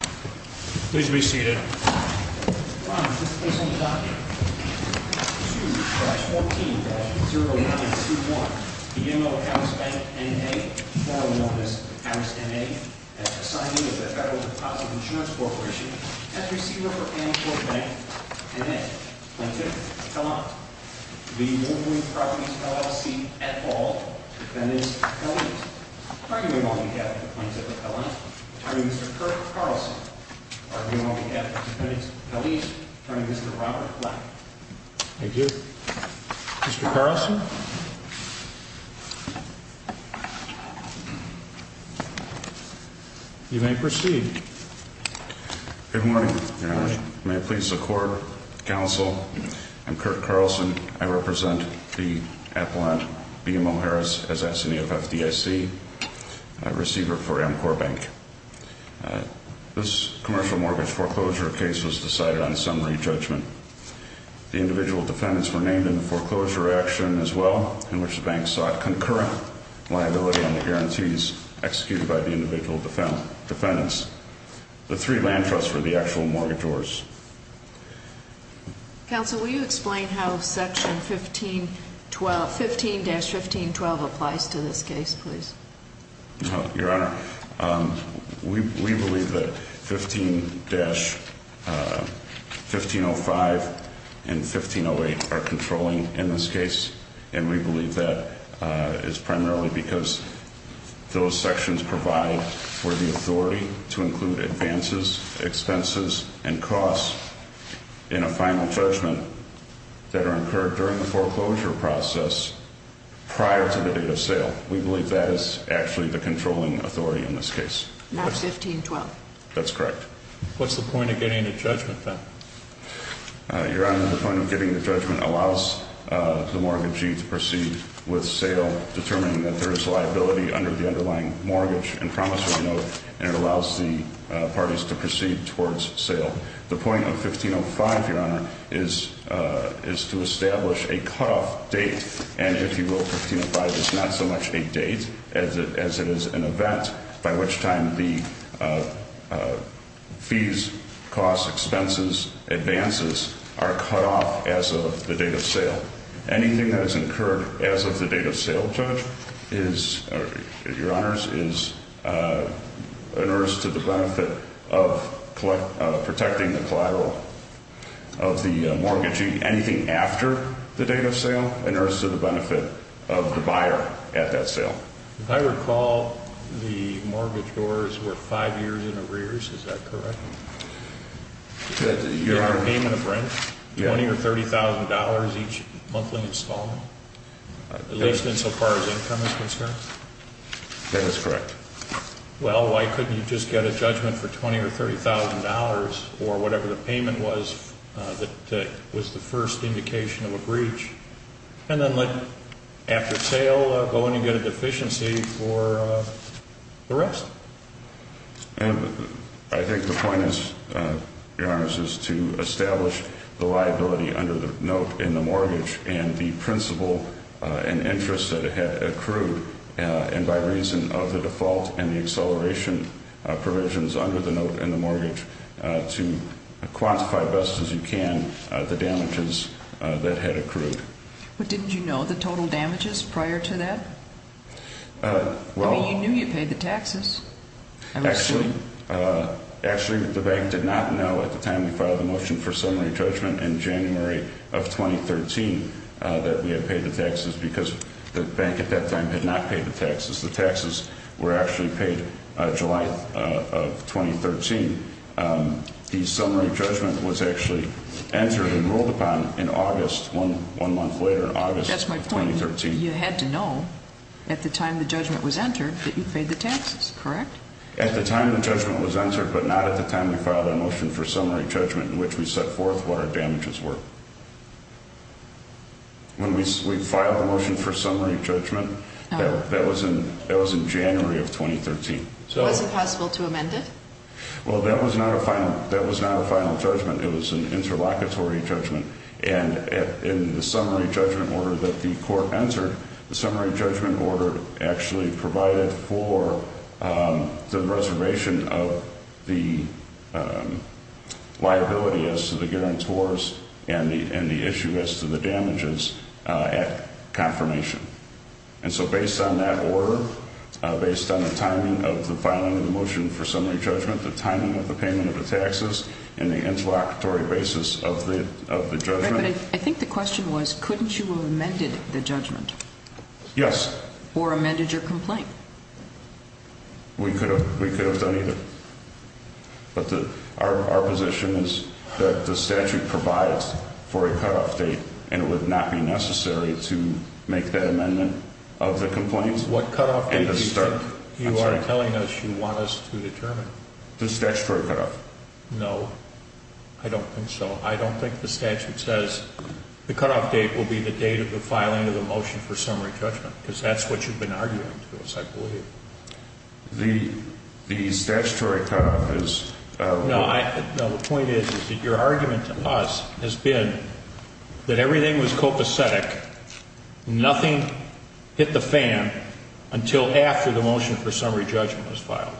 Please be seated. Ron, this case on the docket. 2-14-0921 The M.O. of Harris Bank, N.A. formerly known as Harris, N.A. at the signing of the Federal Deposit Insurance Corporation as receiver for Ann Shore Bank, N.A. Plaintiff, Hellant The Wolverine Properties, LLC at all Defendant, Hellant Arguing on behalf of the Plaintiff, Hellant Attorney, Mr. Kirk Carlson Arguing on behalf of the Plaintiff, Hellant Attorney, Mr. Robert Black Thank you. Mr. Carlson You may proceed. Good morning, Your Honor. May it please the Court, Counsel, I'm Kirk Carlson. I represent the appellant, BMO Harris, as assignee of FDIC, receiver for Ann Shore Bank. This commercial mortgage foreclosure case was decided on summary judgment. The individual defendants were named in the foreclosure action as well, in which the bank sought concurrent liability on the guarantees executed by the individual defendants. The three land trusts were the actual mortgagors. Counsel, will you explain how section 15-15-12 applies to this case, please? Your Honor, we believe that 15-1505 and 1508 are controlling in this case, and we believe that is primarily because those sections provide for the authority to include advances, expenses, and costs in a final judgment that are incurred during the foreclosure process prior to the date of sale. We believe that is actually the controlling authority in this case. Not 15-12? That's correct. What's the point of getting a judgment, then? Your Honor, the point of getting the judgment allows the mortgagee to proceed with sale, determining that there is liability under the underlying mortgage, and promisory note, and it allows the parties to proceed towards sale. The point of 1505, Your Honor, is to establish a cutoff date, and if you will, 1505 is not so much a date as it is an event, by which time the fees, costs, expenses, advances are cut off as of the date of sale. Anything that is incurred as of the date of sale, Judge, is, Your Honors, is inerts to the benefit of protecting the collateral of the mortgagee. Anything after the date of sale inerts to the benefit of the buyer at that sale. If I recall, the mortgage doors were 5 years in arrears. Is that correct? Your Honor. And the payment of rent, $20,000 or $30,000 each monthly installment, at least insofar as income is concerned? That is correct. Well, why couldn't you just get a judgment for $20,000 or $30,000, or whatever the payment was that was the first indication of a breach, and then let, after sale, go in and get a deficiency for the rest? I think the point is, Your Honors, is to establish the liability under the note in the mortgage and the principal and interest that it had accrued, and by reason of the default and the acceleration provisions under the note in the mortgage, to quantify best as you can the damages that had accrued. But didn't you know the total damages prior to that? I mean, you knew you paid the taxes. Actually, the bank did not know at the time we filed the motion for summary judgment in January of 2013 that we had paid the taxes because the bank at that time had not paid the taxes. The taxes were actually paid July of 2013. The summary judgment was actually entered and ruled upon in August, one month later in August of 2013. That's my point. You had to know at the time the judgment was entered that you paid the taxes, correct? At the time the judgment was entered, but not at the time we filed our motion for summary judgment in which we set forth what our damages were. When we filed the motion for summary judgment, that was in January of 2013. Was it possible to amend it? Well, that was not a final judgment. It was an interlocutory judgment. And in the summary judgment order that the court entered, the summary judgment order actually provided for the reservation of the liability as to the guarantors and the issue as to the damages at confirmation. And so based on that order, based on the timing of the filing of the motion for summary judgment, the timing of the payment of the taxes and the interlocutory basis of the judgment... Right, but I think the question was, couldn't you have amended the judgment? Yes. Or amended your complaint? We could have done either. But our position is that the statute provides for a cutoff date, and it would not be necessary to make that amendment of the complaint. What cutoff date do you think you are telling us you want us to determine? The statutory cutoff. No, I don't think so. I don't think the statute says, the cutoff date will be the date of the filing of the motion for summary judgment, because that's what you've been arguing to us, I believe. The statutory cutoff is... No, the point is that your argument to us has been that everything was copacetic, nothing hit the fan until after the motion for summary judgment was filed.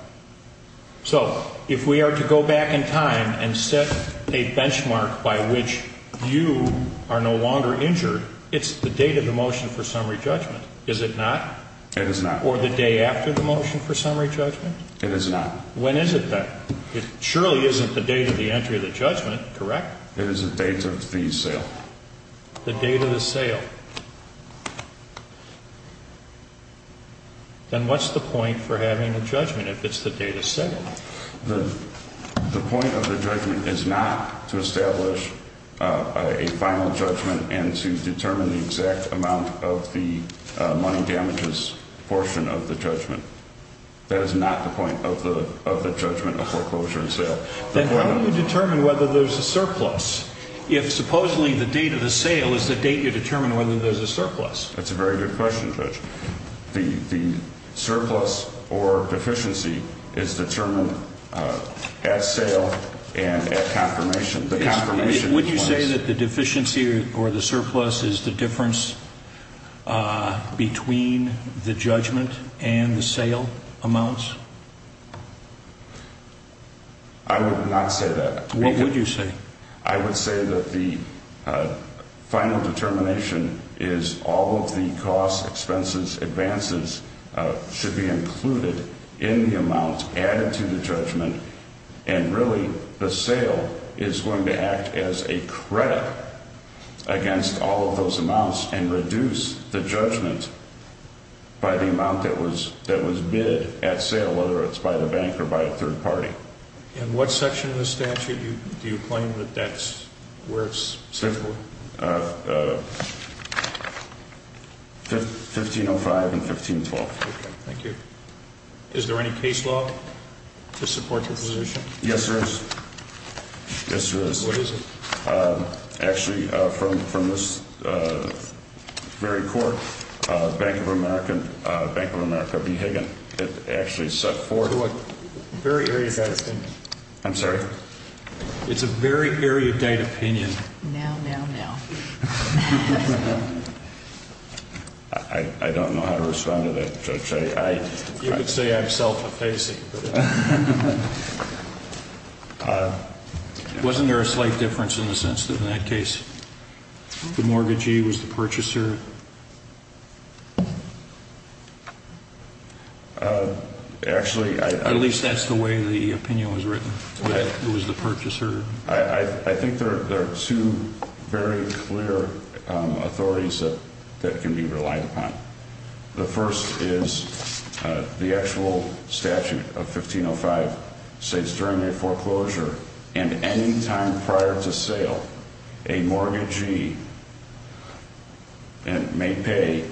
So if we are to go back in time and set a benchmark by which you are no longer injured, it's the date of the motion for summary judgment, is it not? It is not. Or the day after the motion for summary judgment? It is not. When is it then? It surely isn't the date of the entry of the judgment, correct? It is the date of the sale. The date of the sale. Then what's the point for having a judgment if it's the date of sale? The point of the judgment is not to establish a final judgment and to determine the exact amount of the money damages portion of the judgment. That is not the point of the judgment of foreclosure and sale. Then how do you determine whether there's a surplus if supposedly the date of the sale is the date you determine whether there's a surplus? That's a very good question, Judge. The surplus or deficiency is determined at sale and at confirmation. Would you say that the deficiency or the surplus is the difference between the judgment and the sale amounts? I would not say that. What would you say? I would say that the final determination is all of the costs, expenses, advances should be included in the amount added to the judgment, and really the sale is going to act as a credit against all of those amounts and reduce the judgment by the amount that was bid at sale, whether it's by the bank or by a third party. In what section of the statute do you claim that that's where it's for? 1505 and 1512. Okay, thank you. Is there any case law to support your position? Yes, there is. Yes, there is. What is it? Actually, from this very court, Bank of America v. Higgin, it actually set forth... What? Very erudite opinion. I'm sorry? It's a very erudite opinion. Now, now, now. I don't know how to respond to that, Judge. You could say I'm self-effacing. Wasn't there a slight difference in the sense that in that case the mortgagee was the purchaser? Actually, I... At least that's the way the opinion was written, that it was the purchaser. I think there are two very clear authorities that can be relied upon. The first is the actual statute of 1505 states during a foreclosure and any time prior to sale a mortgagee may pay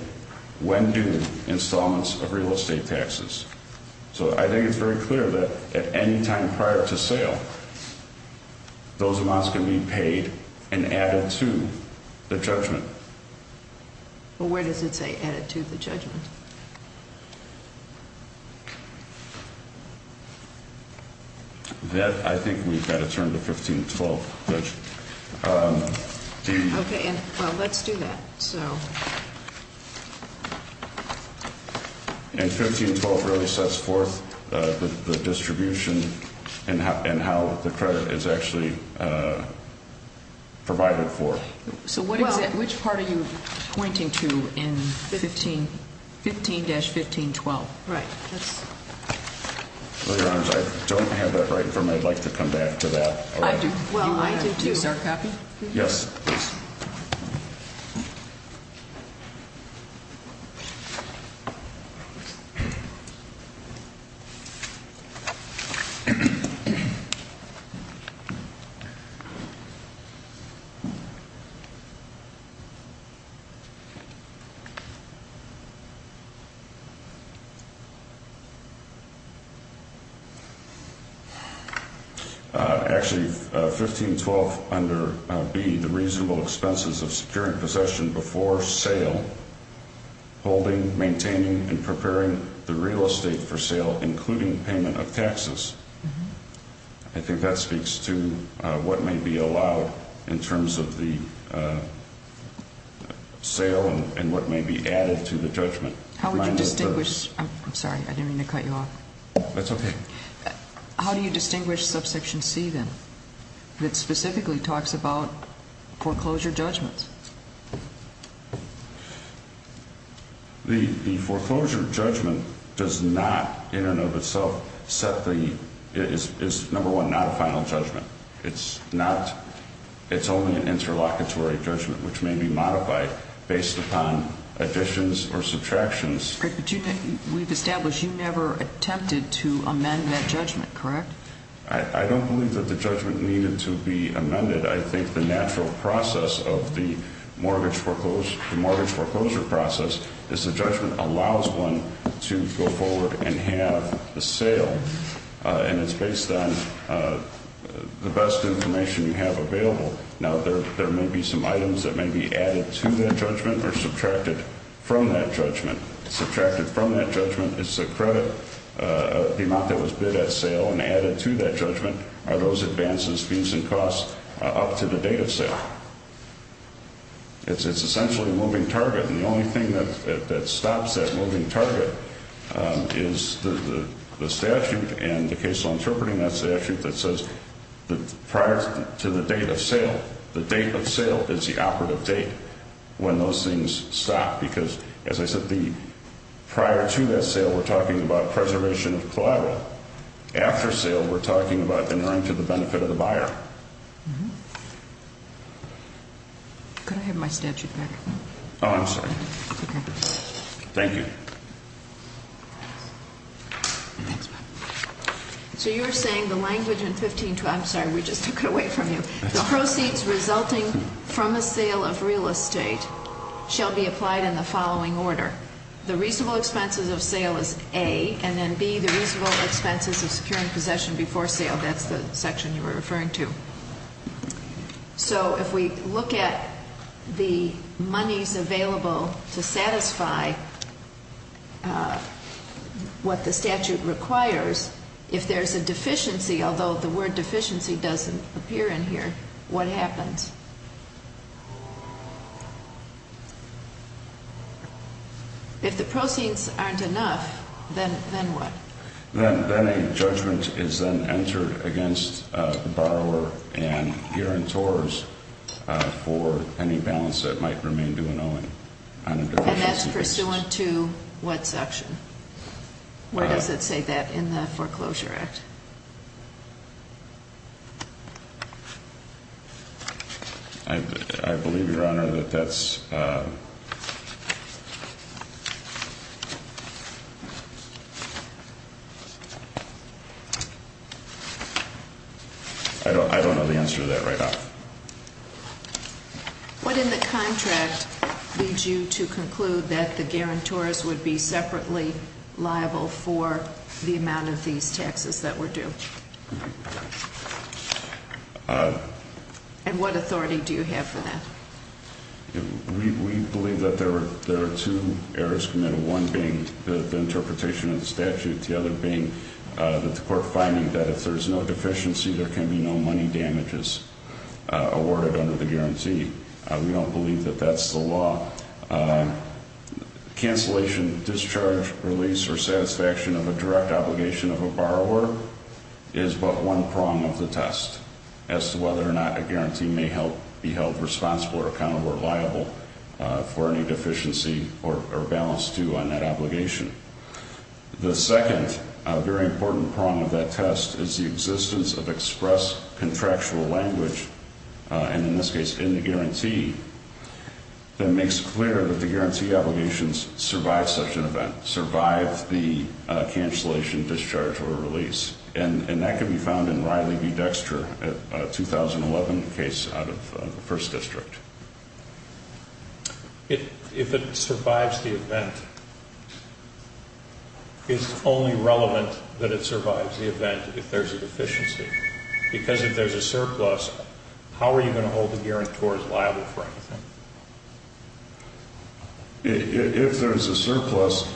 when due installments of real estate taxes. So I think it's very clear that at any time prior to sale those amounts can be paid and added to the judgment. Well, where does it say added to the judgment? That I think we've got to turn to 1512, Judge. Okay, well, let's do that. And 1512 really sets forth the distribution and how the credit is actually provided for. So which part are you pointing to in 1512? 15-1512. Right. Well, Your Honor, I don't have that right in front of me. I'd like to come back to that. I do. Well, I do, too. Do you, sir, copy? Yes, please. Actually, 1512 under B, the reasonable expenses of securing possession before sale, holding, maintaining, and preparing the real estate for sale, including payment of taxes. I think that speaks to what may be allowed in terms of the sale and what may be added to the judgment. I'm sorry. I didn't mean to cut you off. That's okay. How do you distinguish subsection C, then, that specifically talks about foreclosure judgment? The foreclosure judgment does not, in and of itself, set the – is, number one, not a final judgment. It's not – it's only an interlocutory judgment, which may be modified based upon additions or subtractions. But you – we've established you never attempted to amend that judgment, correct? I don't believe that the judgment needed to be amended. I think the natural process of the mortgage foreclosure process is the judgment allows one to go forward and have the sale. And it's based on the best information you have available. Now, there may be some items that may be added to that judgment or subtracted from that judgment. Subtracted from that judgment is the credit, the amount that was bid at sale, and added to that judgment are those advances, fees, and costs up to the date of sale. It's essentially a moving target. And the only thing that stops that moving target is the statute and the case law interpreting that statute that says prior to the date of sale, the date of sale is the operative date when those things stop. Because, as I said, the – prior to that sale, we're talking about preservation of collateral. After sale, we're talking about entering to the benefit of the buyer. Could I have my statute back? Oh, I'm sorry. It's okay. Thank you. Thanks, Bob. So you're saying the language in 1512 – I'm sorry, we just took it away from you. The proceeds resulting from a sale of real estate shall be applied in the following order. The reasonable expenses of sale is A, and then B, the reasonable expenses of securing possession before sale. That's the section you were referring to. So if we look at the monies available to satisfy what the statute requires, if there's a deficiency, although the word deficiency doesn't appear in here, what happens? If the proceeds aren't enough, then what? Then a judgment is then entered against the borrower and guarantors for any balance that might remain due in owing. And that's pursuant to what section? Where does it say that in the Foreclosure Act? I believe, Your Honor, that that's – I don't know the answer to that right now. What in the contract leads you to conclude that the guarantors would be separately liable for the amount of these taxes that were paid? And what authority do you have for that? We believe that there are two errors committed, one being the interpretation of the statute, the other being the court finding that if there's no deficiency, there can be no money damages awarded under the guarantee. We don't believe that that's the law. Cancellation, discharge, release, or satisfaction of a direct obligation of a borrower is but one prong of the test as to whether or not a guarantee may be held responsible or accountable or liable for any deficiency or balance due on that obligation. The second very important prong of that test is the existence of express contractual language, and in this case, in the guarantee, that makes clear that the guarantee obligations survive such an event, survive the cancellation, discharge, or release. And that can be found in Riley v. Dexter, a 2011 case out of the First District. If it survives the event, it's only relevant that it survives the event if there's a deficiency. Because if there's a surplus, how are you going to hold the guarantor as liable for anything? If there's a surplus,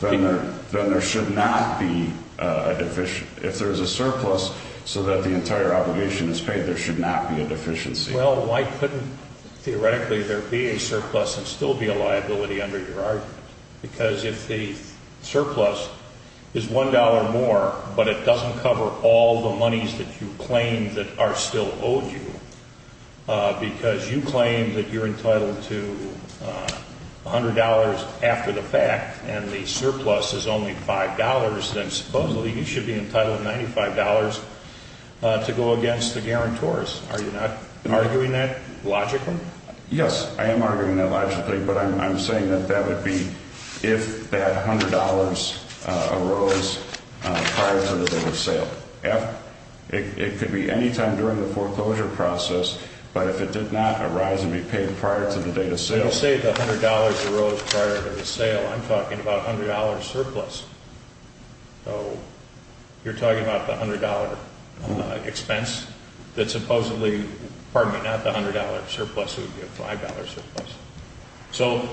then there should not be a deficiency. If there's a surplus so that the entire obligation is paid, there should not be a deficiency. Well, why couldn't theoretically there be a surplus and still be a liability under your argument? Because if the surplus is $1 more, but it doesn't cover all the monies that you claim that are still owed you, because you claim that you're entitled to $100 after the fact and the surplus is only $5, then supposedly you should be entitled to $95 to go against the guarantors. Are you not arguing that logically? Yes, I am arguing that logically, but I'm saying that that would be if that $100 arose prior to the date of sale. It could be any time during the foreclosure process, but if it did not arise and be paid prior to the date of sale. When you say the $100 arose prior to the sale, I'm talking about $100 surplus. So you're talking about the $100 expense that supposedly, pardon me, not the $100 surplus, it would be a $5 surplus. So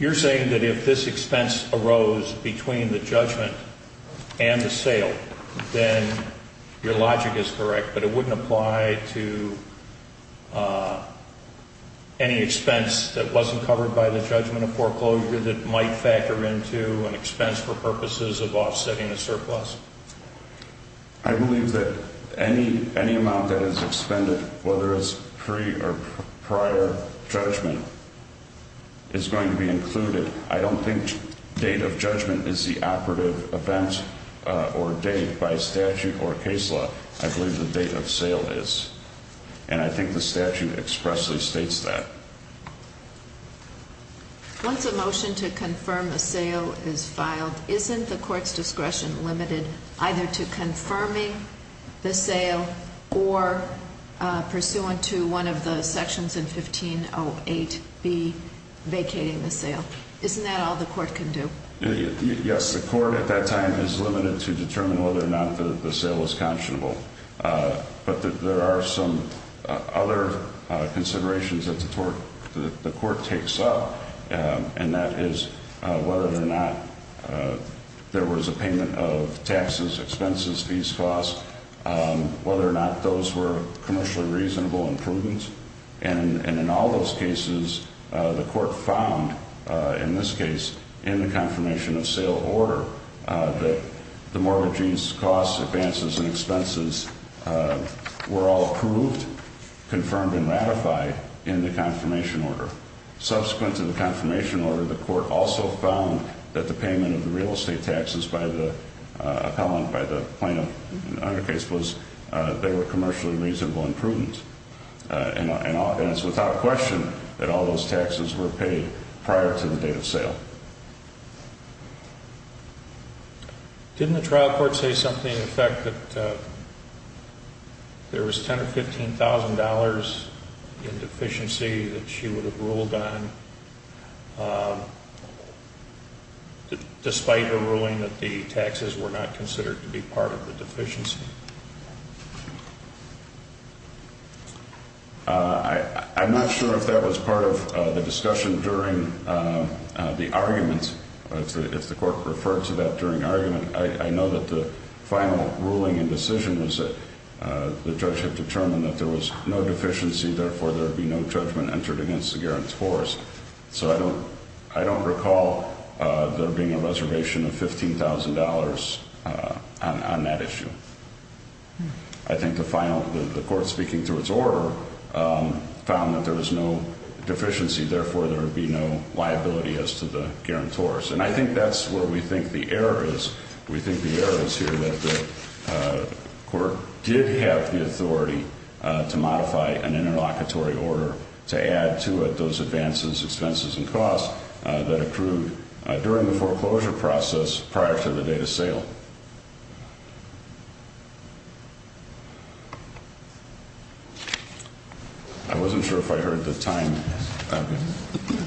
you're saying that if this expense arose between the judgment and the sale, then your logic is correct, but it wouldn't apply to any expense that wasn't covered by the judgment of foreclosure that might factor into an expense for purposes of offsetting the surplus? I believe that any amount that is expended, whether it's pre or prior judgment, is going to be included. I don't think date of judgment is the operative event or date by statute or case law. I believe the date of sale is, and I think the statute expressly states that. Once a motion to confirm a sale is filed, isn't the court's discretion limited either to confirming the sale or pursuant to one of the sections in 1508B vacating the sale? Isn't that all the court can do? Yes, the court at that time is limited to determine whether or not the sale is conscionable. But there are some other considerations that the court takes up, and that is whether or not there was a payment of taxes, expenses, fees, costs, whether or not those were commercially reasonable improvements. And in all those cases, the court found in this case in the confirmation of sale order that the mortgagee's costs, advances, and expenses were all approved, confirmed, and ratified in the confirmation order. Subsequent to the confirmation order, the court also found that the payment of the real estate taxes by the appellant, by the plaintiff in the other case, was they were commercially reasonable improvements. And it's without question that all those taxes were paid prior to the date of sale. Didn't the trial court say something in effect that there was $10,000 or $15,000 in deficiency that she would have ruled on despite her ruling that the taxes were not considered to be part of the deficiency? I'm not sure if that was part of the discussion during the argument, if the court referred to that during argument. I know that the final ruling and decision was that the judge had determined that there was no deficiency, therefore there would be no judgment entered against the guarantor's force. So I don't recall there being a reservation of $15,000 on that issue. I think the court speaking to its order found that there was no deficiency, therefore there would be no liability as to the guarantor's. And I think that's where we think the error is. We think the error is here that the court did have the authority to modify an interlocutory order to add to it those advances, expenses, and costs that accrued during the foreclosure process prior to the date of sale. I wasn't sure if I heard the time.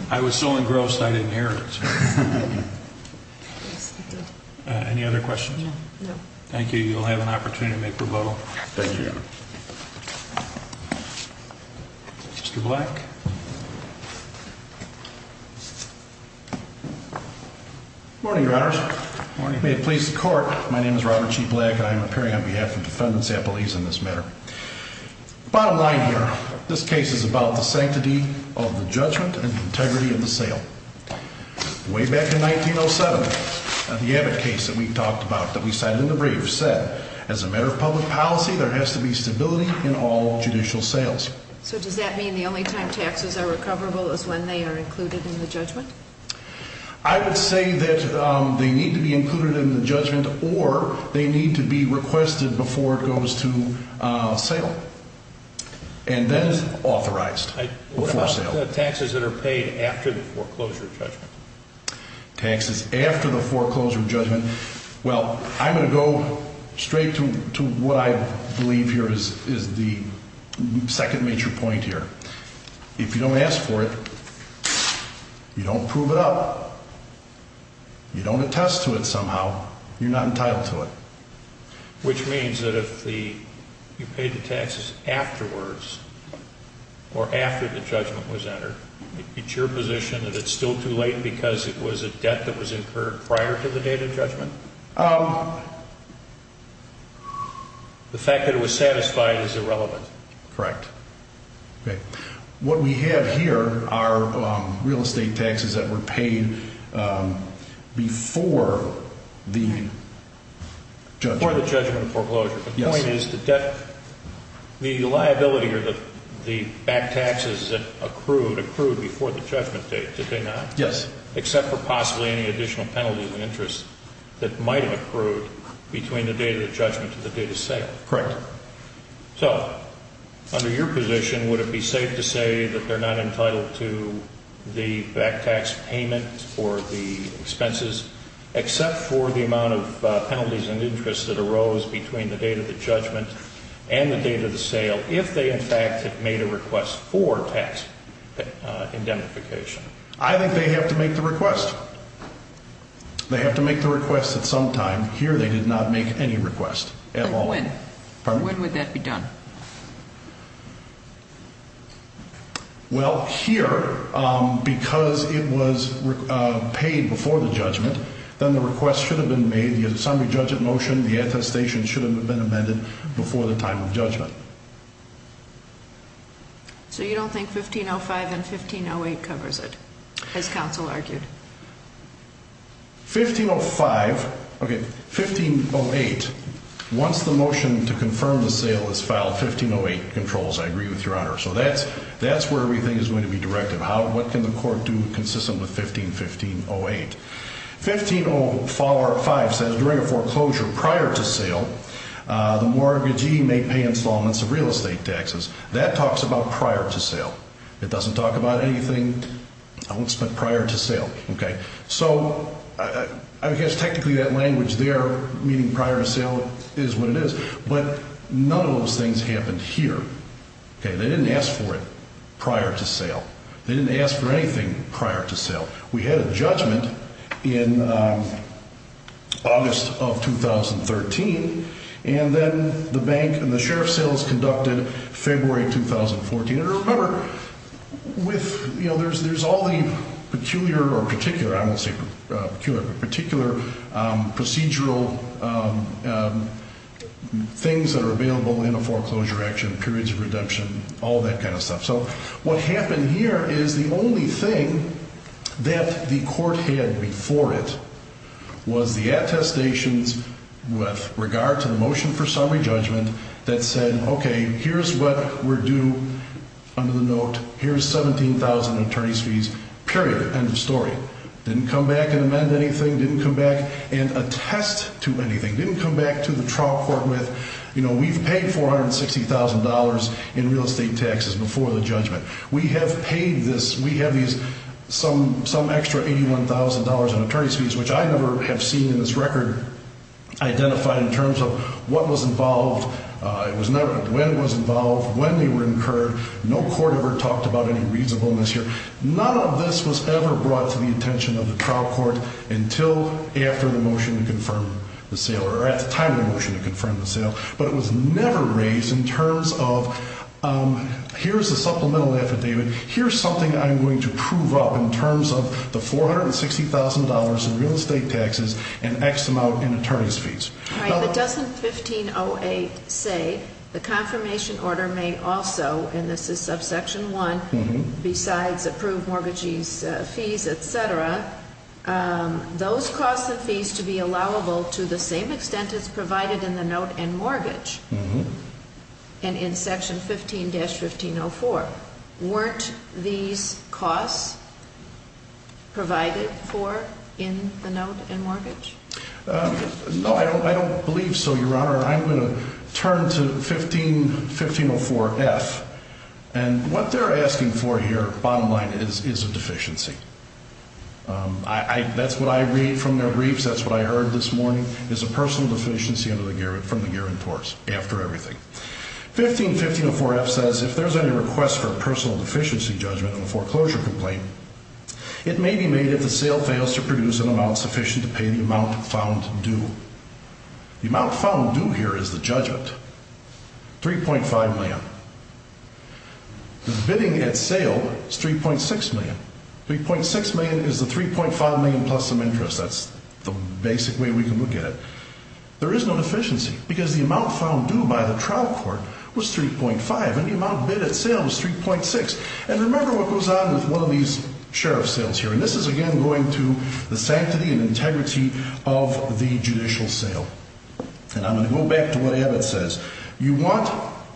I was so engrossed I didn't hear it. Any other questions? No. Thank you. You'll have an opportunity to make rebuttal. Thank you, Your Honor. Mr. Black. Good morning, Your Honors. Good morning. May it please the court, my name is Robert G. Black. I am appearing on behalf of Defendants Appellees in this matter. Bottom line here, this case is about the sanctity of the judgment and integrity of the sale. Way back in 1907, the Abbott case that we talked about that we cited in the brief said, as a matter of public policy, there has to be stability in all judicial sales. So does that mean the only time taxes are recoverable is when they are included in the judgment? I would say that they need to be included in the judgment or they need to be requested before it goes to sale. And then it's authorized before sale. What about the taxes that are paid after the foreclosure judgment? Taxes after the foreclosure judgment. Well, I'm going to go straight to what I believe here is the second major point here. If you don't ask for it, you don't prove it up. You don't attest to it somehow. You're not entitled to it. Which means that if you pay the taxes afterwards or after the judgment was entered, it's your position that it's still too late because it was a debt that was incurred prior to the date of judgment? The fact that it was satisfied is irrelevant. Correct. Okay. What we have here are real estate taxes that were paid before the judgment. Before the judgment of foreclosure. Yes. The point is the liability or the back taxes that accrued, accrued before the judgment date, did they not? Yes. Except for possibly any additional penalties and interest that might have accrued between the date of the judgment and the date of sale. Correct. So, under your position, would it be safe to say that they're not entitled to the back tax payment for the expenses, except for the amount of penalties and interest that arose between the date of the judgment and the date of the sale, if they, in fact, had made a request for tax indemnification? I think they have to make the request. They have to make the request at some time. Here they did not make any request at all. When? Pardon me? When would that be done? Well, here, because it was paid before the judgment, then the request should have been made, the assembly judgment motion, the attestation should have been amended before the time of judgment. So you don't think 1505 and 1508 covers it, as counsel argued? 1505. Okay, 1508. Once the motion to confirm the sale is filed, 1508 controls. I agree with your Honor. So that's where everything is going to be directed. What can the court do consistent with 1515-08? 1505 says during a foreclosure prior to sale, the mortgagee may pay installments of real estate taxes. That talks about prior to sale. It doesn't talk about anything else but prior to sale. So I guess technically that language there, meaning prior to sale, is what it is. But none of those things happened here. They didn't ask for it prior to sale. They didn't ask for anything prior to sale. We had a judgment in August of 2013, and then the bank and the sheriff's sales conducted February 2014. And remember, there's all the peculiar or particular, I won't say peculiar, but particular procedural things that are available in a foreclosure action, periods of redemption, all that kind of stuff. So what happened here is the only thing that the court had before it was the attestations with regard to the motion for summary judgment that said, okay, here's what we're due under the note. Here's $17,000 in attorney's fees, period. End of story. Didn't come back and amend anything. Didn't come back and attest to anything. Didn't come back to the trial court with, you know, we've paid $460,000 in real estate taxes before the judgment. We have paid this. We have these some extra $81,000 in attorney's fees, which I never have seen in this record identified in terms of what was involved, when it was involved, when they were incurred. No court ever talked about any reasonableness here. None of this was ever brought to the attention of the trial court until after the motion to confirm the sale, but it was never raised in terms of here's a supplemental affidavit. Here's something I'm going to prove up in terms of the $460,000 in real estate taxes and X amount in attorney's fees. All right. But doesn't 1508 say the confirmation order may also, and this is subsection 1, besides approved mortgagees' fees, et cetera, those costs and fees to be allowable to the same extent as provided in the note and mortgage? Mm-hmm. And in section 15-1504, weren't these costs provided for in the note and mortgage? No, I don't believe so, Your Honor. I'm going to turn to 15-1504-F, and what they're asking for here, bottom line, is a deficiency. That's what I read from their briefs. That's what I heard this morning is a personal deficiency from the guarantors after everything. 15-1504-F says, if there's any request for a personal deficiency judgment on a foreclosure complaint, it may be made if the sale fails to produce an amount sufficient to pay the amount found due. The amount found due here is the judgment, 3.5 million. The bidding at sale is 3.6 million. 3.6 million is the 3.5 million plus some interest. That's the basic way we can look at it. There is no deficiency because the amount found due by the trial court was 3.5, and the amount bid at sale was 3.6. And remember what goes on with one of these sheriff's sales here, and this is, again, going to the sanctity and integrity of the judicial sale. And I'm going to go back to what Abbott says. You want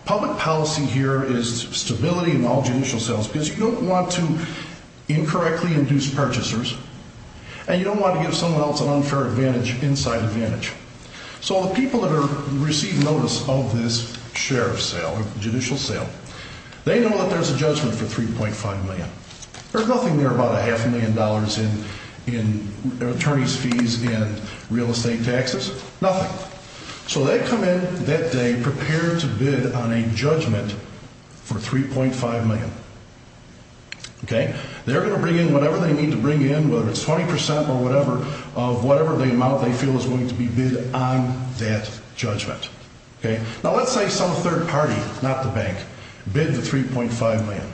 public policy here is stability in all judicial sales because you don't want to incorrectly induce purchasers, and you don't want to give someone else an unfair inside advantage. So the people that receive notice of this sheriff's sale or judicial sale, they know that there's a judgment for 3.5 million. There's nothing there about a half a million dollars in attorney's fees and real estate taxes, nothing. So they come in that day prepared to bid on a judgment for 3.5 million. They're going to bring in whatever they need to bring in, whether it's 20 percent or whatever, of whatever the amount they feel is going to be bid on that judgment. Now, let's say some third party, not the bank, bid the 3.5 million.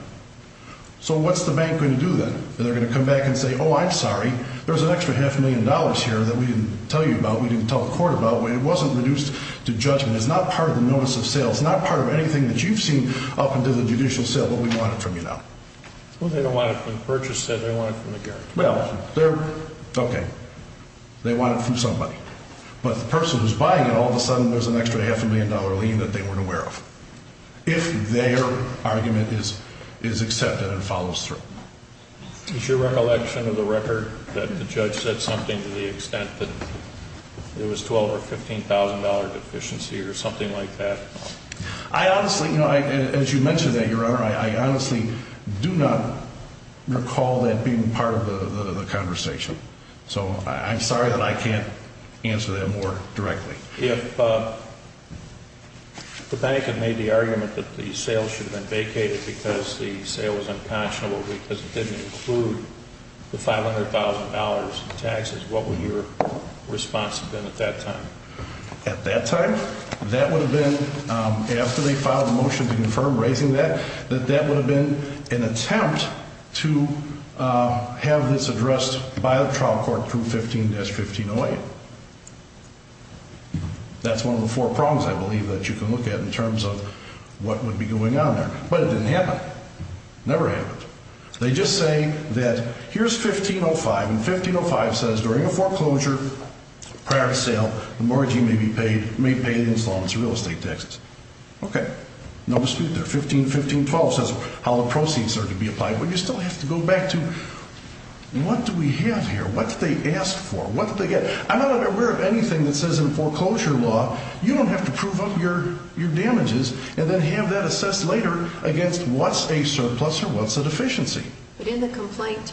So what's the bank going to do then? They're going to come back and say, oh, I'm sorry. There's an extra half a million dollars here that we didn't tell you about, we didn't tell the court about. It wasn't reduced to judgment. It's not part of the notice of sale. It's not part of anything that you've seen up until the judicial sale, but we want it from you now. Well, they don't want it from the purchaser. They want it from the guarantor. Well, they're, okay. They want it from somebody. But the person who's buying it, all of a sudden there's an extra half a million dollar lien that they weren't aware of, if their argument is accepted and follows through. Is your recollection of the record that the judge said something to the extent that it was a $12,000 or $15,000 deficiency or something like that? I honestly, as you mentioned that, Your Honor, I honestly do not recall that being part of the conversation. So I'm sorry that I can't answer that more directly. If the bank had made the argument that the sale should have been vacated because the sale was unpassionable because it didn't include the $500,000 in taxes, what would your response have been at that time? At that time, that would have been, after they filed a motion to confirm raising that, that that would have been an attempt to have this addressed by the trial court through 15-1508. That's one of the four prongs, I believe, that you can look at in terms of what would be going on there. But it didn't happen. Never happened. They just say that here's 1505, and 1505 says during a foreclosure, prior to sale, the mortgagee may pay the installments of real estate taxes. Okay. No dispute there. 1515.12 says how the proceeds are to be applied. But you still have to go back to what do we have here? What did they ask for? What did they get? I'm not aware of anything that says in foreclosure law you don't have to prove up your damages and then have that assessed later against what's a surplus or what's a deficiency. But in the complaint,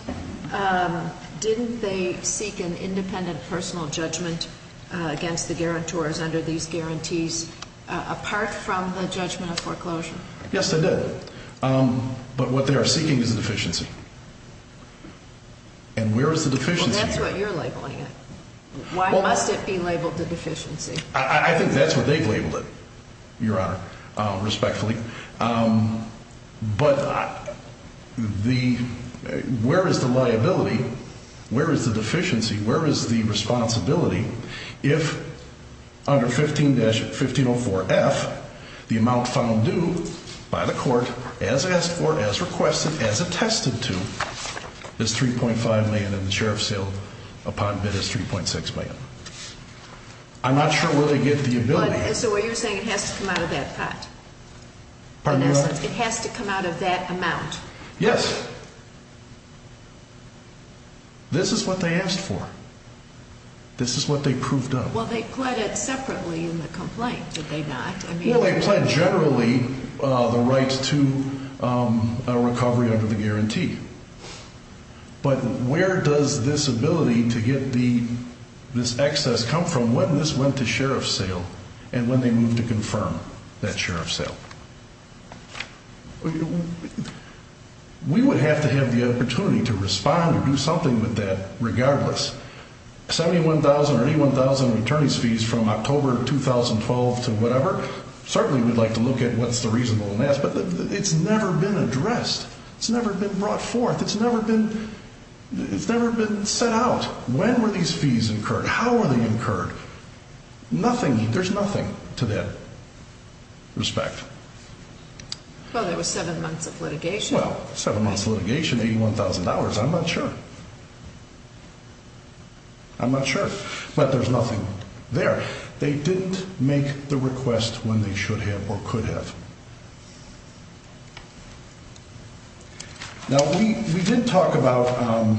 didn't they seek an independent personal judgment against the guarantors under these guarantees apart from the judgment of foreclosure? Yes, they did. But what they are seeking is a deficiency. And where is the deficiency? Well, that's what you're labeling it. Why must it be labeled a deficiency? I think that's what they've labeled it, Your Honor, respectfully. But where is the liability? Where is the deficiency? Where is the responsibility if under 1504F the amount found due by the court as asked for, as requested, as attested to is 3.5 million and the sheriff's sale upon bid is 3.6 million? I'm not sure where they get the ability. So what you're saying is it has to come out of that pot? Pardon me, Your Honor? It has to come out of that amount? Yes. This is what they asked for. This is what they proved up. Well, they pled it separately in the complaint, did they not? Well, they pled generally the right to a recovery under the guarantee. But where does this ability to get this excess come from when this went to sheriff's sale and when they moved to confirm that sheriff's sale? We would have to have the opportunity to respond or do something with that regardless. 71,000 or 81,000 returning fees from October 2012 to whatever, certainly we'd like to look at what's the reasonableness. But it's never been addressed. It's never been brought forth. It's never been set out. When were these fees incurred? How were they incurred? Nothing. There's nothing to that respect. Well, there was seven months of litigation. Well, seven months of litigation, $81,000, I'm not sure. I'm not sure. But there's nothing there. They didn't make the request when they should have or could have. Now, we did talk about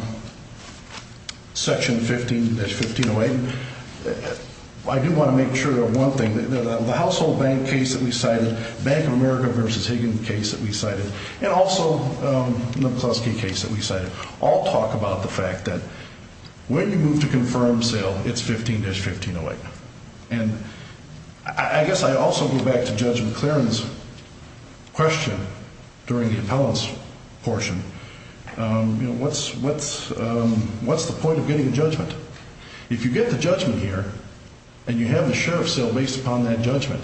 Section 15-1508. I do want to make sure of one thing. The household bank case that we cited, Bank of America v. Higgins case that we cited, and also the McCluskey case that we cited all talk about the fact that when you move to confirm sale, it's 15-1508. And I guess I also go back to Judge McLaren's question during the appellant's portion. What's the point of getting a judgment? If you get the judgment here and you have the sheriff's sale based upon that judgment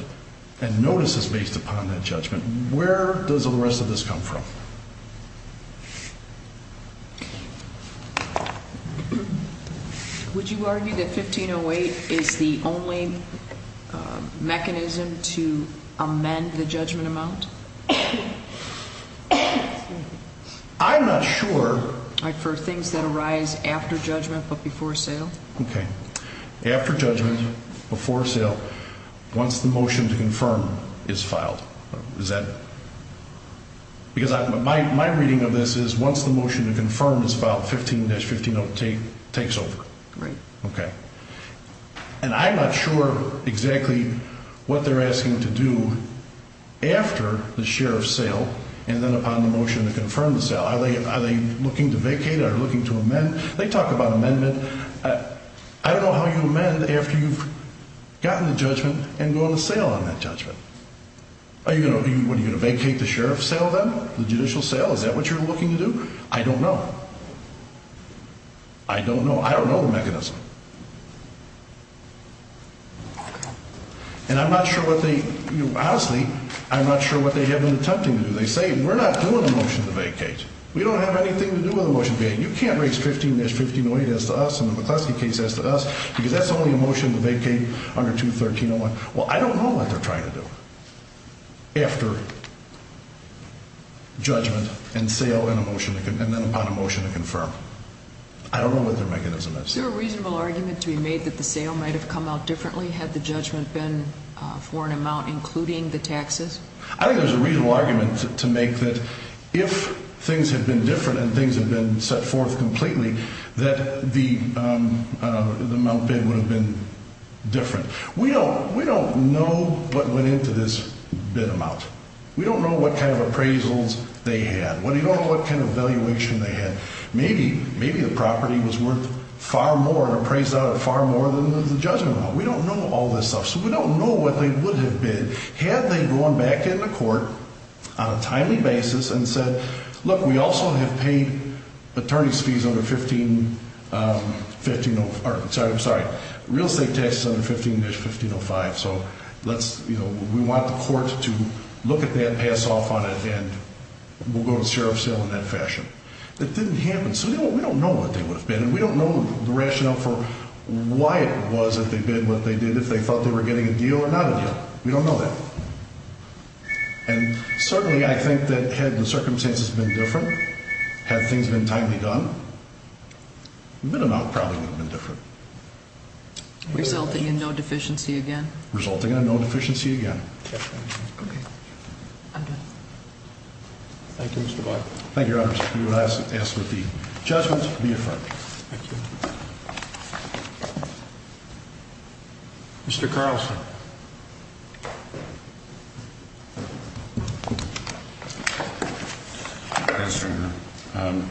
and notices based upon that judgment, where does the rest of this come from? Would you argue that 15-1508 is the only mechanism to amend the judgment amount? I'm not sure. For things that arise after judgment but before sale? Okay. After judgment, before sale, once the motion to confirm is filed. Because my reading of this is once the motion to confirm is filed, 15-1508 takes over. Right. Okay. And I'm not sure exactly what they're asking to do after the sheriff's sale and then upon the motion to confirm the sale. Are they looking to vacate? Are they looking to amend? They talk about amendment. I don't know how you amend after you've gotten the judgment and going to sale on that judgment. Are you going to vacate the sheriff's sale then, the judicial sale? Is that what you're looking to do? I don't know. I don't know. I don't know the mechanism. And I'm not sure what they, honestly, I'm not sure what they have been attempting to do. They say we're not doing a motion to vacate. We don't have anything to do with a motion to vacate. You can't raise 15-1508 as to us and the McCluskey case as to us because that's the only motion to vacate under 213-01. Well, I don't know what they're trying to do after judgment and sale and then upon a motion to confirm. I don't know what their mechanism is. Is there a reasonable argument to be made that the sale might have come out differently had the judgment been for an amount including the taxes? I think there's a reasonable argument to make that if things had been different and things had been set forth completely that the amount bid would have been different. We don't know what went into this bid amount. We don't know what kind of appraisals they had. We don't know what kind of valuation they had. Maybe the property was worth far more and appraised out of far more than the judgment amount. We don't know all this stuff. So we don't know what they would have bid. Had they gone back in the court on a timely basis and said, look, we also have paid attorney's fees under 15-1505. I'm sorry. Real estate tax is under 15-1505. So let's, you know, we want the court to look at that, pass off on it, and we'll go to sheriff's sale in that fashion. It didn't happen. So we don't know what they would have bid, and we don't know the rationale for why it was that they bid what they did, if they thought they were getting a deal or not a deal. We don't know that. And certainly I think that had the circumstances been different, had things been timely done, the bid amount probably would have been different. Resulting in no deficiency again? Resulting in no deficiency again. Okay. I'm done. Thank you, Mr. Buck. Thank you, Your Honor. We will ask that the judgment be affirmed. Thank you. Mr. Carlson. Yes, Your Honor.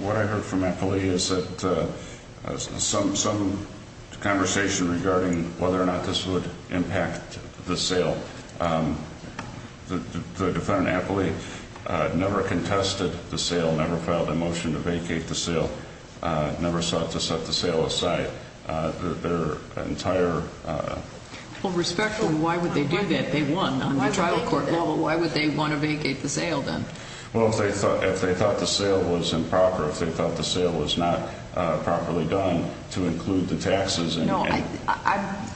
What I heard from Appley is that some conversation regarding whether or not this would impact the sale. The defendant, Appley, never contested the sale, never filed a motion to vacate the sale, never sought to set the sale aside. Their entire... Well, respectfully, why would they do that? They won on the trial court level. Why would they want to vacate the sale then? Well, if they thought the sale was improper, if they thought the sale was not properly done to include the taxes. No, I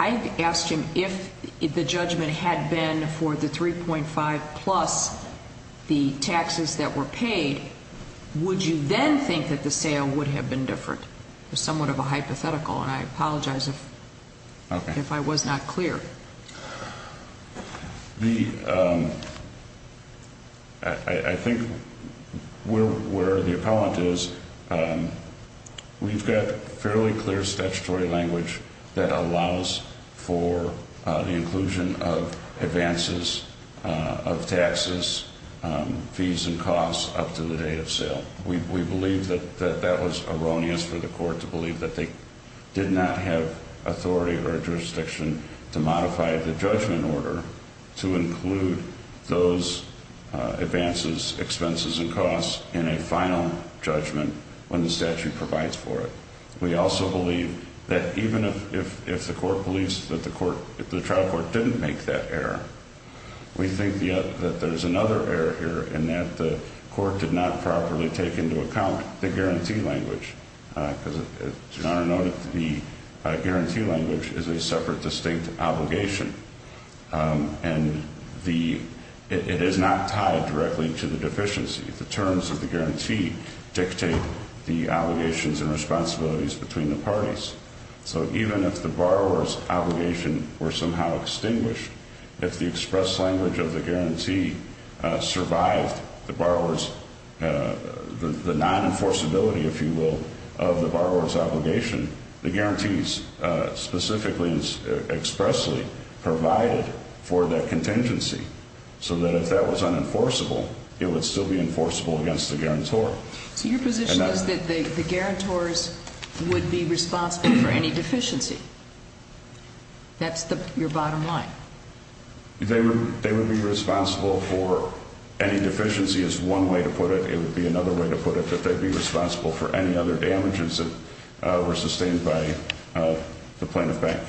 asked him if the judgment had been for the 3.5 plus the taxes that were paid, would you then think that the sale would have been different? It was somewhat of a hypothetical, and I apologize if I was not clear. I think where the appellant is, we've got fairly clear statutory language that allows for the inclusion of advances of taxes, fees, and costs up to the date of sale. We believe that that was erroneous for the court to believe that they did not have authority or jurisdiction to modify the judgment order to include those advances, expenses, and costs in a final judgment when the statute provides for it. We also believe that even if the court believes that the trial court didn't make that error, we think that there's another error here in that the court did not properly take into account the guarantee language. The guarantee language is a separate, distinct obligation, and it is not tied directly to the deficiency. The terms of the guarantee dictate the obligations and responsibilities between the parties. So even if the borrower's obligation were somehow extinguished, if the express language of the guarantee survived the non-enforceability, if you will, of the borrower's obligation, the guarantees specifically and expressly provided for that contingency, so that if that was unenforceable, it would still be enforceable against the guarantor. So your position is that the guarantors would be responsible for any deficiency? That's your bottom line? They would be responsible for any deficiency is one way to put it. It would be another way to put it, but they'd be responsible for any other damages that were sustained by the plaintiff bank.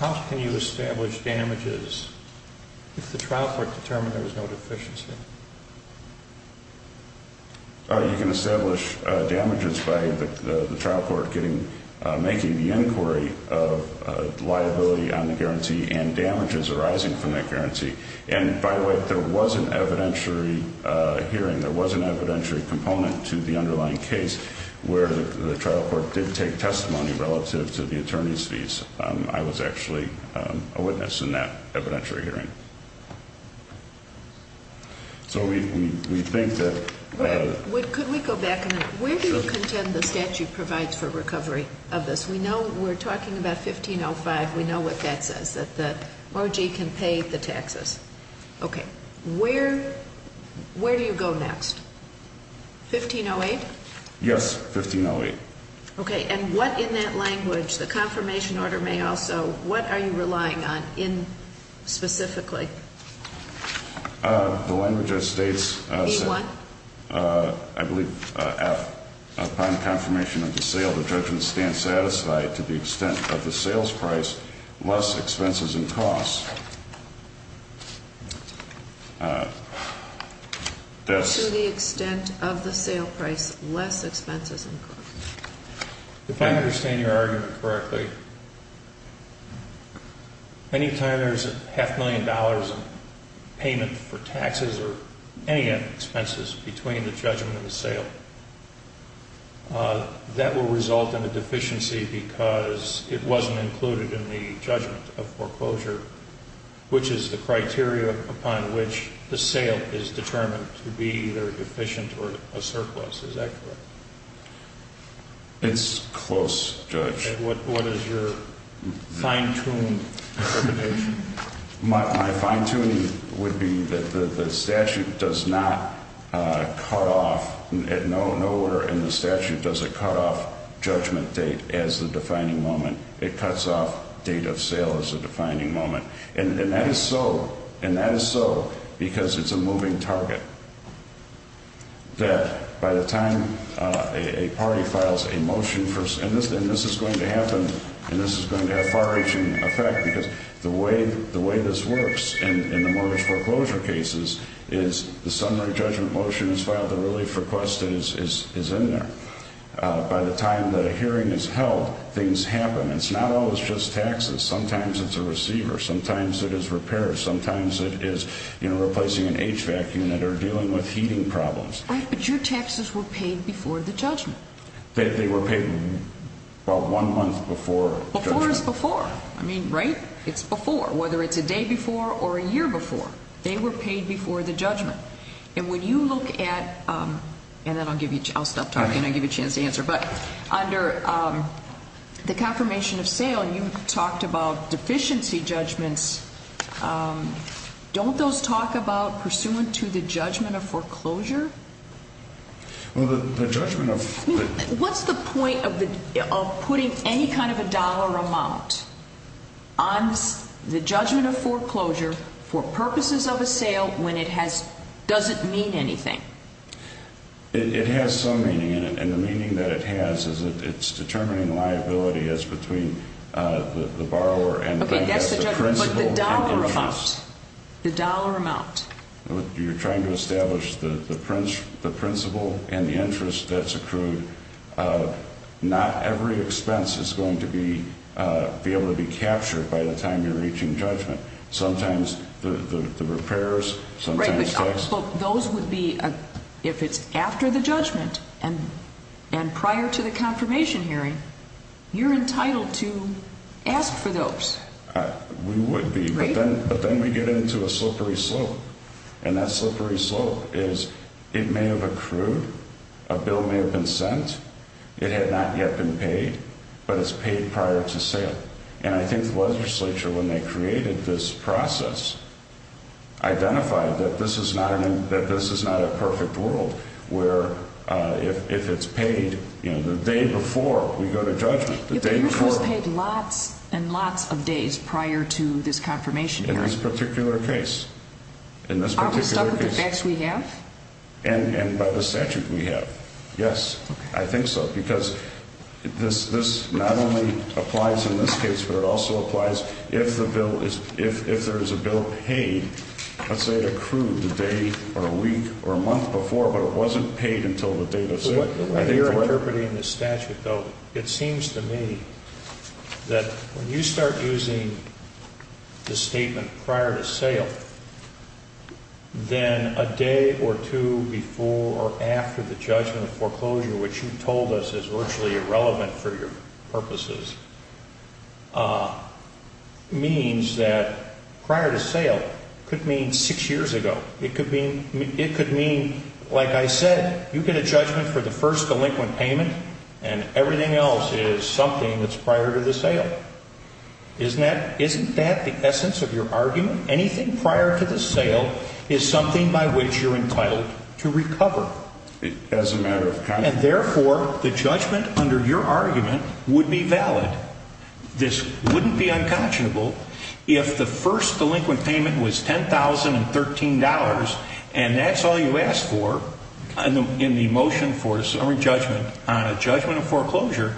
How can you establish damages if the trial court determined there was no deficiency? You can establish damages by the trial court making the inquiry of liability on the guarantee and damages arising from that guarantee. And by the way, there was an evidentiary hearing, there was an evidentiary component to the underlying case where the trial court did take testimony relative to the attorney's fees. I was actually a witness in that evidentiary hearing. So we think that... Could we go back a minute? Where do you contend the statute provides for recovery of this? We know we're talking about 1505. We know what that says, that the OG can pay the taxes. Okay. Where do you go next? 1508? Yes, 1508. Okay. And what in that language, the confirmation order may also, what are you relying on specifically? The language that states... B-1? I believe upon confirmation of the sale, the judgment stands satisfied to the extent of the sales price, less expenses and costs. To the extent of the sale price, less expenses and costs. If I understand your argument correctly, anytime there's a half million dollars in payment for taxes or any expenses between the judgment and the sale, that will result in a deficiency because it wasn't included in the judgment of foreclosure, which is the criteria upon which the sale is determined to be either deficient or a surplus. Is that correct? It's close, Judge. And what is your fine-tuned determination? My fine-tuning would be that the statute does not cut off, nowhere in the statute does it cut off judgment date as the defining moment. It cuts off date of sale as the defining moment. And that is so because it's a moving target, that by the time a party files a motion, and this is going to happen, and this is going to have far-reaching effect because the way this works in the mortgage foreclosure cases is the summary judgment motion is filed, the relief request is in there. By the time the hearing is held, things happen. It's not always just taxes. Sometimes it's a receiver. Sometimes it is repairs. Sometimes it is replacing an HVAC unit or dealing with heating problems. Right, but your taxes were paid before the judgment. They were paid about one month before judgment. Before is before. I mean, right? It's before, whether it's a day before or a year before. They were paid before the judgment. And when you look at, and then I'll stop talking and I'll give you a chance to answer, but under the confirmation of sale, you talked about deficiency judgments. Don't those talk about pursuant to the judgment of foreclosure? Well, the judgment of foreclosure. What's the point of putting any kind of a dollar amount on the judgment of foreclosure for purposes of a sale when it doesn't mean anything? It has some meaning in it, and the meaning that it has is that it's determining liability as between the borrower and the principal. Okay, that's the judgment, but the dollar amount. The dollar amount. You're trying to establish the principal and the interest that's accrued. Not every expense is going to be able to be captured by the time you're reaching judgment. Sometimes the repairs, sometimes tax. Right, but those would be, if it's after the judgment and prior to the confirmation hearing, you're entitled to ask for those. We would be, but then we get into a slippery slope, and that slippery slope is it may have accrued, a bill may have been sent, it had not yet been paid, but it's paid prior to sale. And I think the legislature, when they created this process, identified that this is not a perfect world where if it's paid the day before we go to judgment. But yours was paid lots and lots of days prior to this confirmation hearing. In this particular case. Are we stuck with the facts we have? And by the statute we have, yes, I think so, because this not only applies in this case, but it also applies if the bill is, if there is a bill paid, let's say it accrued a day or a week or a month before, but it wasn't paid until the date of sale. What you're interpreting in the statute, though, it seems to me that when you start using the statement prior to sale, then a day or two before or after the judgment of foreclosure, which you told us is virtually irrelevant for your purposes, means that prior to sale could mean six years ago. It could mean, like I said, you get a judgment for the first delinquent payment, and everything else is something that's prior to the sale. Isn't that the essence of your argument? Anything prior to the sale is something by which you're entitled to recover. As a matter of confidence. And, therefore, the judgment under your argument would be valid. This wouldn't be unconscionable if the first delinquent payment was $10,013, and that's all you asked for in the motion for a summary judgment on a judgment of foreclosure,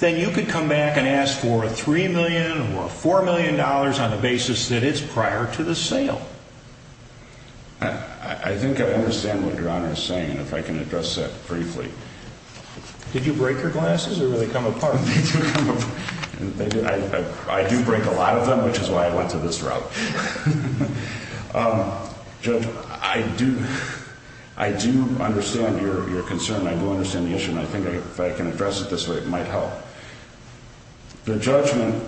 then you could come back and ask for $3 million or $4 million on the basis that it's prior to the sale. I think I understand what Your Honor is saying, and if I can address that briefly. Did you break your glasses or did they come apart? They did come apart. I do break a lot of them, which is why I went to this route. Judge, I do understand your concern. I do understand the issue, and I think if I can address it this way, it might help. The judgment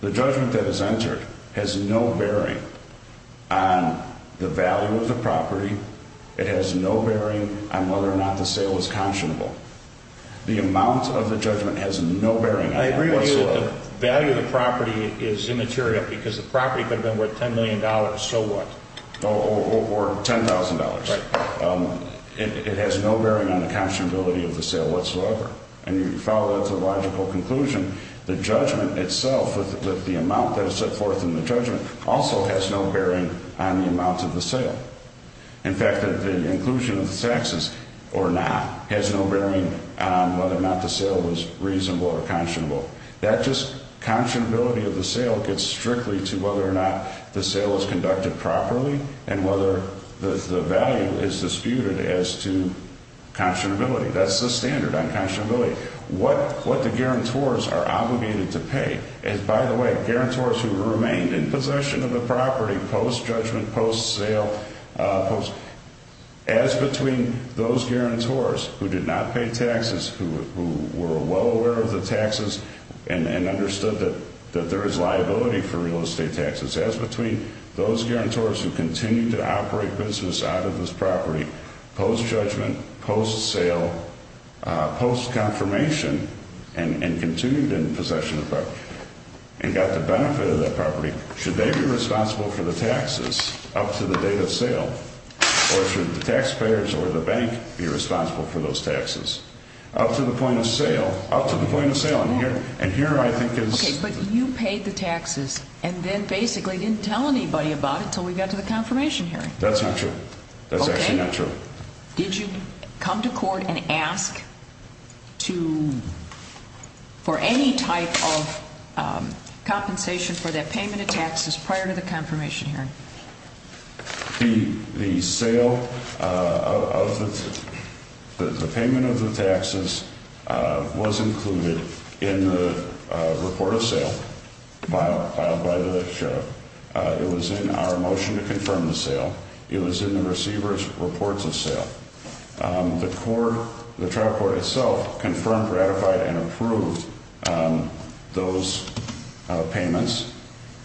that is entered has no bearing on the value of the property. It has no bearing on whether or not the sale is conscionable. The amount of the judgment has no bearing on that whatsoever. I agree with you that the value of the property is immaterial because the property could have been worth $10 million, so what? Or $10,000. It has no bearing on the conscionability of the sale whatsoever. And you follow that to a logical conclusion. The judgment itself, with the amount that is set forth in the judgment, also has no bearing on the amount of the sale. In fact, the inclusion of the taxes or not has no bearing on whether or not the sale was reasonable or conscionable. That just conscionability of the sale gets strictly to whether or not the sale is conducted properly and whether the value is disputed as to conscionability. That's the standard on conscionability, what the guarantors are obligated to pay. And by the way, guarantors who remained in possession of the property post-judgment, post-sale, as between those guarantors who did not pay taxes, who were well aware of the taxes and understood that there is liability for real estate taxes, as between those guarantors who continued to operate business out of this property post-judgment, post-sale, post-confirmation, and continued in possession of the property and got the benefit of that property, should they be responsible for the taxes up to the date of sale? Or should the taxpayers or the bank be responsible for those taxes? Up to the point of sale, up to the point of sale, and here I think is... Okay, but you paid the taxes and then basically didn't tell anybody about it until we got to the confirmation hearing. That's not true. That's actually not true. Did you come to court and ask for any type of compensation for that payment of taxes prior to the confirmation hearing? The payment of the taxes was included in the report of sale filed by the sheriff. It was in our motion to confirm the sale. It was in the receiver's reports of sale. The court, the trial court itself, confirmed, ratified, and approved those payments.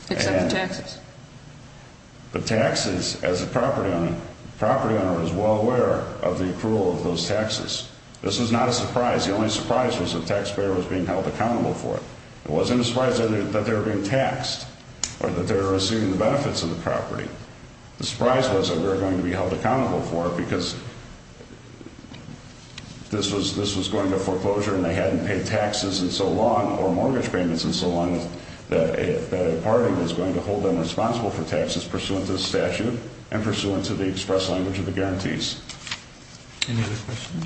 Except the taxes. The taxes, as a property owner, the property owner was well aware of the approval of those taxes. This was not a surprise. The only surprise was the taxpayer was being held accountable for it. It wasn't a surprise that they were being taxed or that they were receiving the benefits of the property. The surprise was that we were going to be held accountable for it because this was going to foreclosure and they hadn't paid taxes in so long or mortgage payments in so long that a party was going to hold them responsible for taxes pursuant to the statute and pursuant to the express language of the guarantees. Any other questions?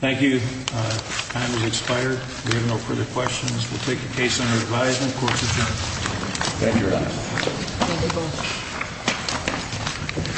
Thank you. Time has expired. We have no further questions. We'll take the case under advisement. Court's adjourned. Thank you very much.